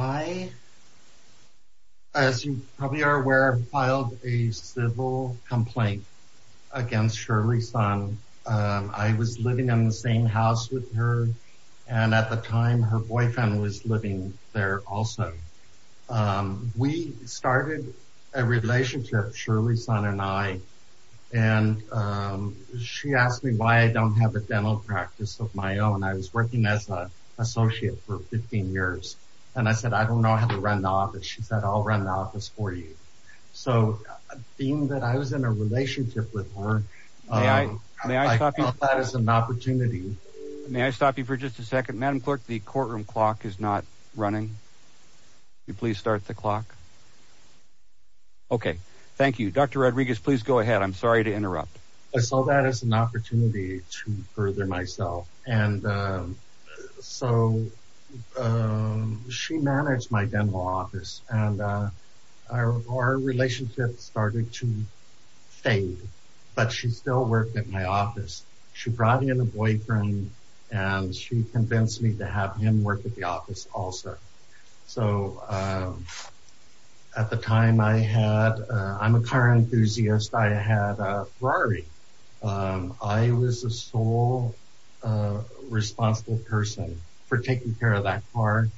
I, as you probably are aware, filed a civil complaint against Shirley Son. I was living in the same house with her, and at the time, her boyfriend was living there also. We started a relationship, Shirley Son and I, and she asked me why I don't have a dental practice of my own. I was working as an associate for 15 years, and I said, I don't know how to run the office. She said, I'll run the office for you. So being that I was in a relationship with her, I thought that was an opportunity. May I stop you for just a second? Madam Clerk, the courtroom clock is not running. Would you please start the clock? Okay, thank you. Dr. Rodriguez, please go ahead. I'm sorry to interrupt. I saw that as an opportunity to further myself, and so she managed my dental office, and our relationship started to fade, but she still worked at my office. She brought in a boyfriend, and she convinced me to have him work at the office also. So at the time, I'm a car enthusiast. I had a Ferrari. I was the sole responsible person for taking care of that car.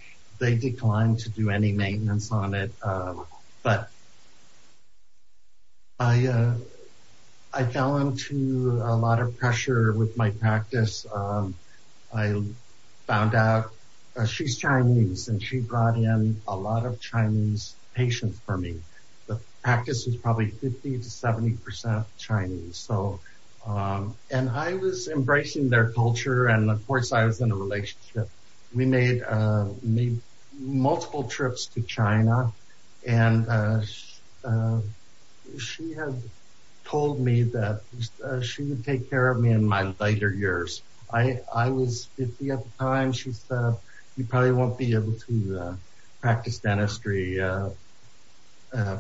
They declined to do any maintenance on it, but I fell into a lot of pressure with my practice. I found out she's Chinese, and she brought in a lot of Chinese patients for me. The practice was probably 50 to 70 percent Chinese, and I was embracing their culture, and of course, I was in a relationship. We made multiple trips to China, and she had told me that she would take care of me in my later years. I was 50 at the time. She said, you probably won't be able to practice dentistry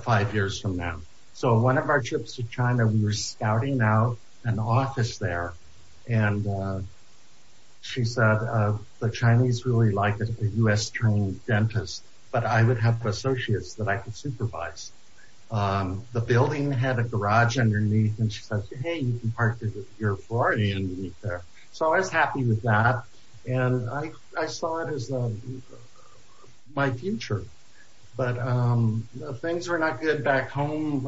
five years from now. So one of our trips to China, we were scouting out an office there, and she said, the Chinese really like a U.S.-trained dentist, but I would have associates that I could supervise. The building had a garage underneath, and she said, hey, you can park your Ferrari underneath there. So I was happy with that, and I saw it as my future, but things were not good back home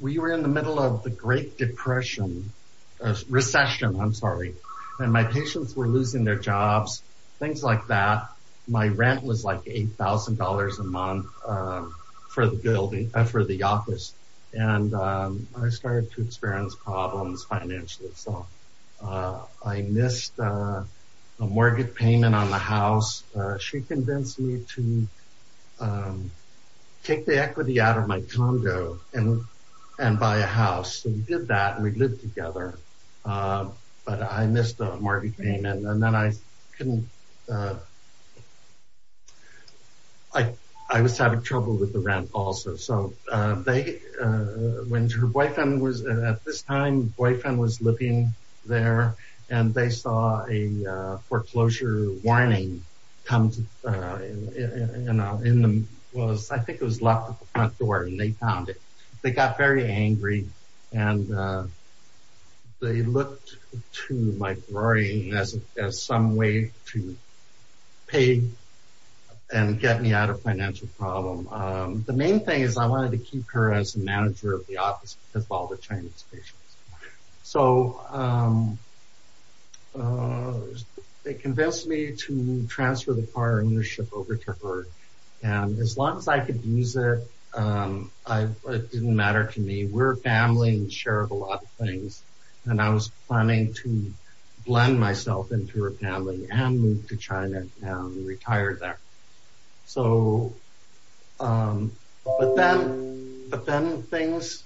We were in the middle of the Great Depression, Recession, I'm sorry, and my patients were losing their jobs, things like that. My rent was like $8,000 a month for the office, and I started to experience problems financially, so I missed a mortgage payment on the house. She convinced me to take the equity out of my condo and buy a house, and we did that, and we lived together, but I missed the mortgage payment. And then I was having trouble with the rent also. So when her boyfriend was, at this time, her boyfriend was living there, and they saw a house that was, I think it was locked at the front door, and they found it. They got very angry, and they looked to my worrying as some way to pay and get me out of financial problem. The main thing is I wanted to keep her as the manager of the office because of all the Chinese patients. So they convinced me to transfer the car ownership over to her, and as long as I could use it, it didn't matter to me. We're a family and share a lot of things, and I was planning to blend myself into her family and move to China and retire there. So, but then things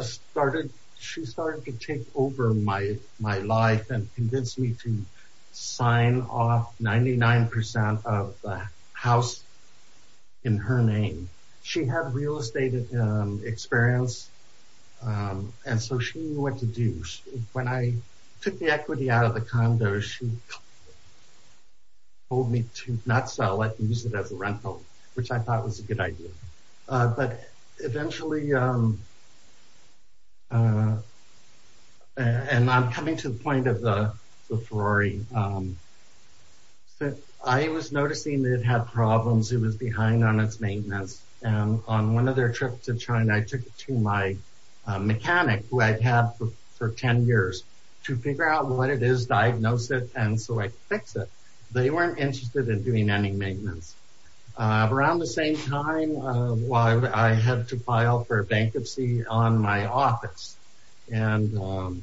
started, she started to take over my life and convinced me to sign off 99% of the house in her name. She had real estate experience, and so she knew what to do. When I took the equity out of the condo, she told me to not sell it and use it as a rental, which I thought was a good idea. But eventually, and I'm coming to the point of the Ferrari, I was noticing it had problems. It was behind on its maintenance, and on one of their trips to China, I took it to my mechanic who I'd had for 10 years to figure out what it is, diagnose it, and so I could fix it. They weren't interested in doing any maintenance. Around the same time, while I had to file for a bankruptcy on my office, and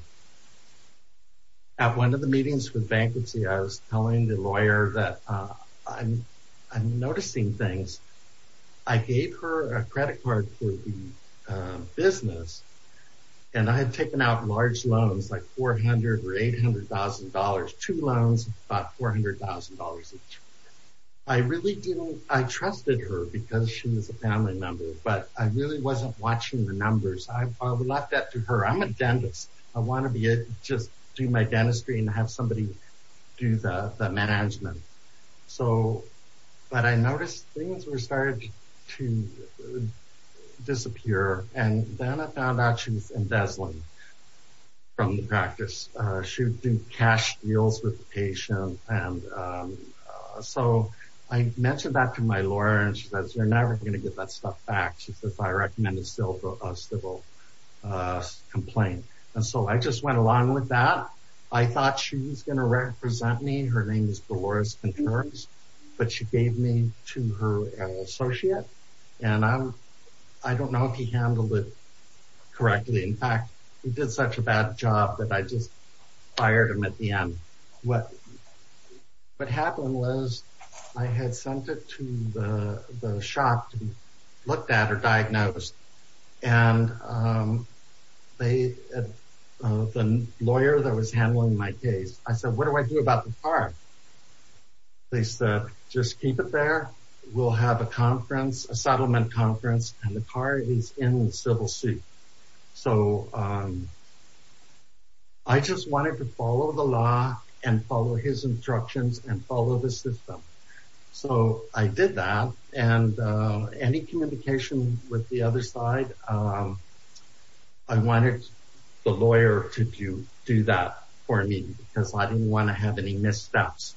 at one of the meetings for the bankruptcy, I was telling the lawyer that I'm noticing things. I gave her a credit card for the business, and I had taken out large loans, like $400,000 or $800,000, two loans, about $400,000 each. I really didn't, I trusted her because she was a family member, but I really wasn't watching the numbers. I left that to her. I'm a dentist. I want to be able to just do my dentistry and have somebody do the management. But I noticed things were starting to disappear, and then I found out she was embezzling from the practice. She would do cash deals with the patient, and so I mentioned that to my lawyer, and she said, you're never going to get that stuff back, she said, if I recommend a civil complaint. And so I just went along with that. I thought she was going to represent me. Her name is Dolores Contreras, but she gave me to her associate, and I don't know if he handled it correctly. In fact, he did such a bad job that I just fired him at the end. What happened was I had sent it to the shop to be looked at or diagnosed, and the lawyer that was handling my case, I said, what do I do about the car? They said, just keep it there. We'll have a conference, a settlement conference, and the car is in the civil suit. So I just wanted to follow the law and follow his instructions and follow the system. So I did that, and any communication with the other side, I wanted the lawyer to do that for me, because I didn't want to have any missteps.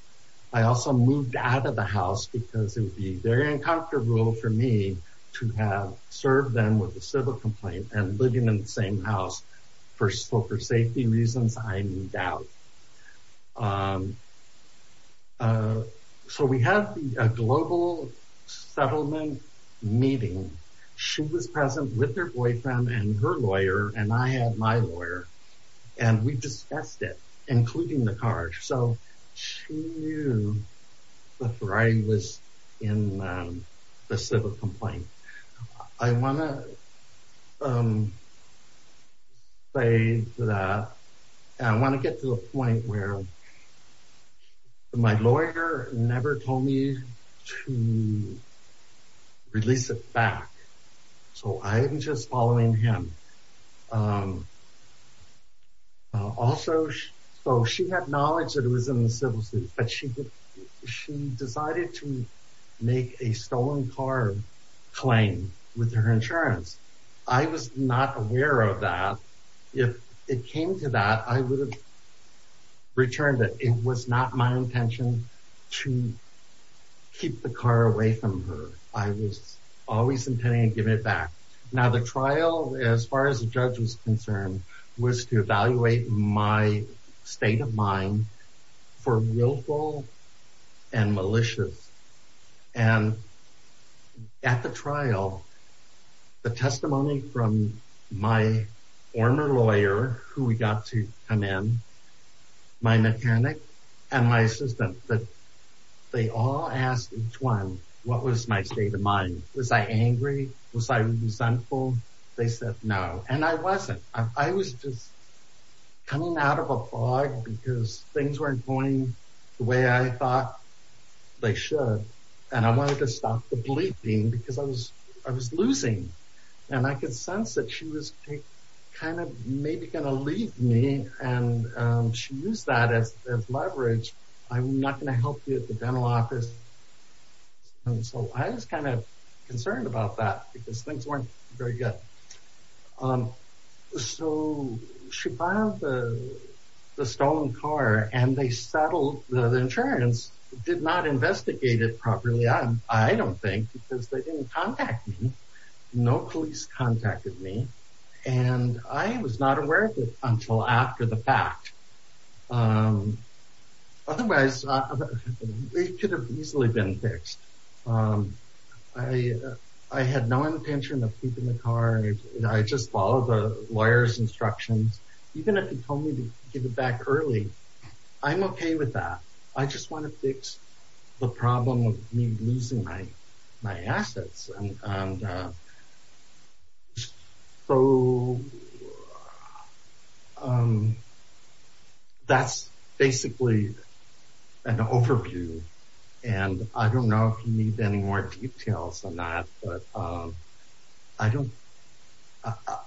I also moved out of the house because it would be very uncomfortable for me to have served them with a civil complaint and living in the same house, so for safety reasons, I moved out. So we had a global settlement meeting. She was present with her boyfriend and her lawyer, and I had my lawyer, and we discussed it, including the car. So she knew before I was in the civil complaint. I want to say that I want to get to a point where my lawyer never told me to release it back. So I'm just following him. Also, so she had knowledge that it was in the civil suit, but she decided to make a stolen car claim with her insurance. I was not aware of that. If it came to that, I would have returned it. It was not my intention to keep the car away from her. I was always intending to give it back. Now the trial, as far as the judge was concerned, was to evaluate my state of mind for willful and malicious, and at the trial, the testimony from my former lawyer who we got to come in, my mechanic, and my assistant, but they all asked each one, what was my state of mind? Was I angry? Was I resentful? They said no, and I wasn't. I was just coming out of a fog because things weren't going the way I thought they should, and I wanted to stop the bleeding because I was losing, and I could sense that she was kind of maybe going to leave me, and she used that as leverage. I'm not going to help you at the dental office, and so I was kind of concerned about that because things weren't very good. So she filed the stolen car, and they settled the insurance, did not investigate it properly, I don't think because they didn't contact me. No police contacted me, and I was not aware of it until after the fact. Otherwise, it could have easily been fixed. I had no intention of keeping the car, and I just followed the lawyer's instructions. Even if he told me to give it back early, I'm okay with that. I just want to fix the problem of me losing my assets, and so that's basically an overview, and I don't know if you need any more details on that, but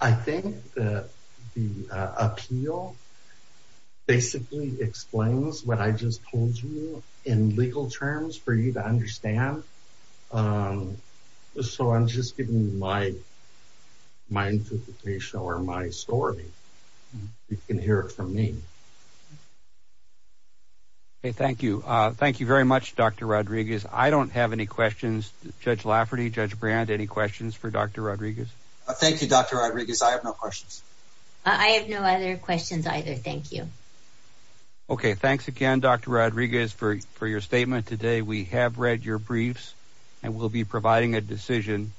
I think that the appeal basically explains what I just told you in legal terms for you to understand. So I'm just giving you my interpretation or my story. You can hear it from me. Okay, thank you. Thank you very much, Dr. Rodriguez. I don't have any questions. Judge Lafferty, Judge Brand, any questions for Dr. Rodriguez? Thank you, Dr. Rodriguez. I have no questions. I have no other questions either. Thank you. Okay, thanks again, Dr. Rodriguez, for your statement today. We have read your briefs, and we'll be providing a decision,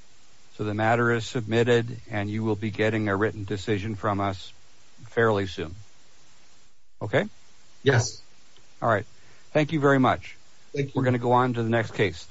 so the matter is submitted, and you will be getting a written decision from us fairly soon. Okay? Yes. All right. Thank you very much. Thank you. We're going to go on to the next case.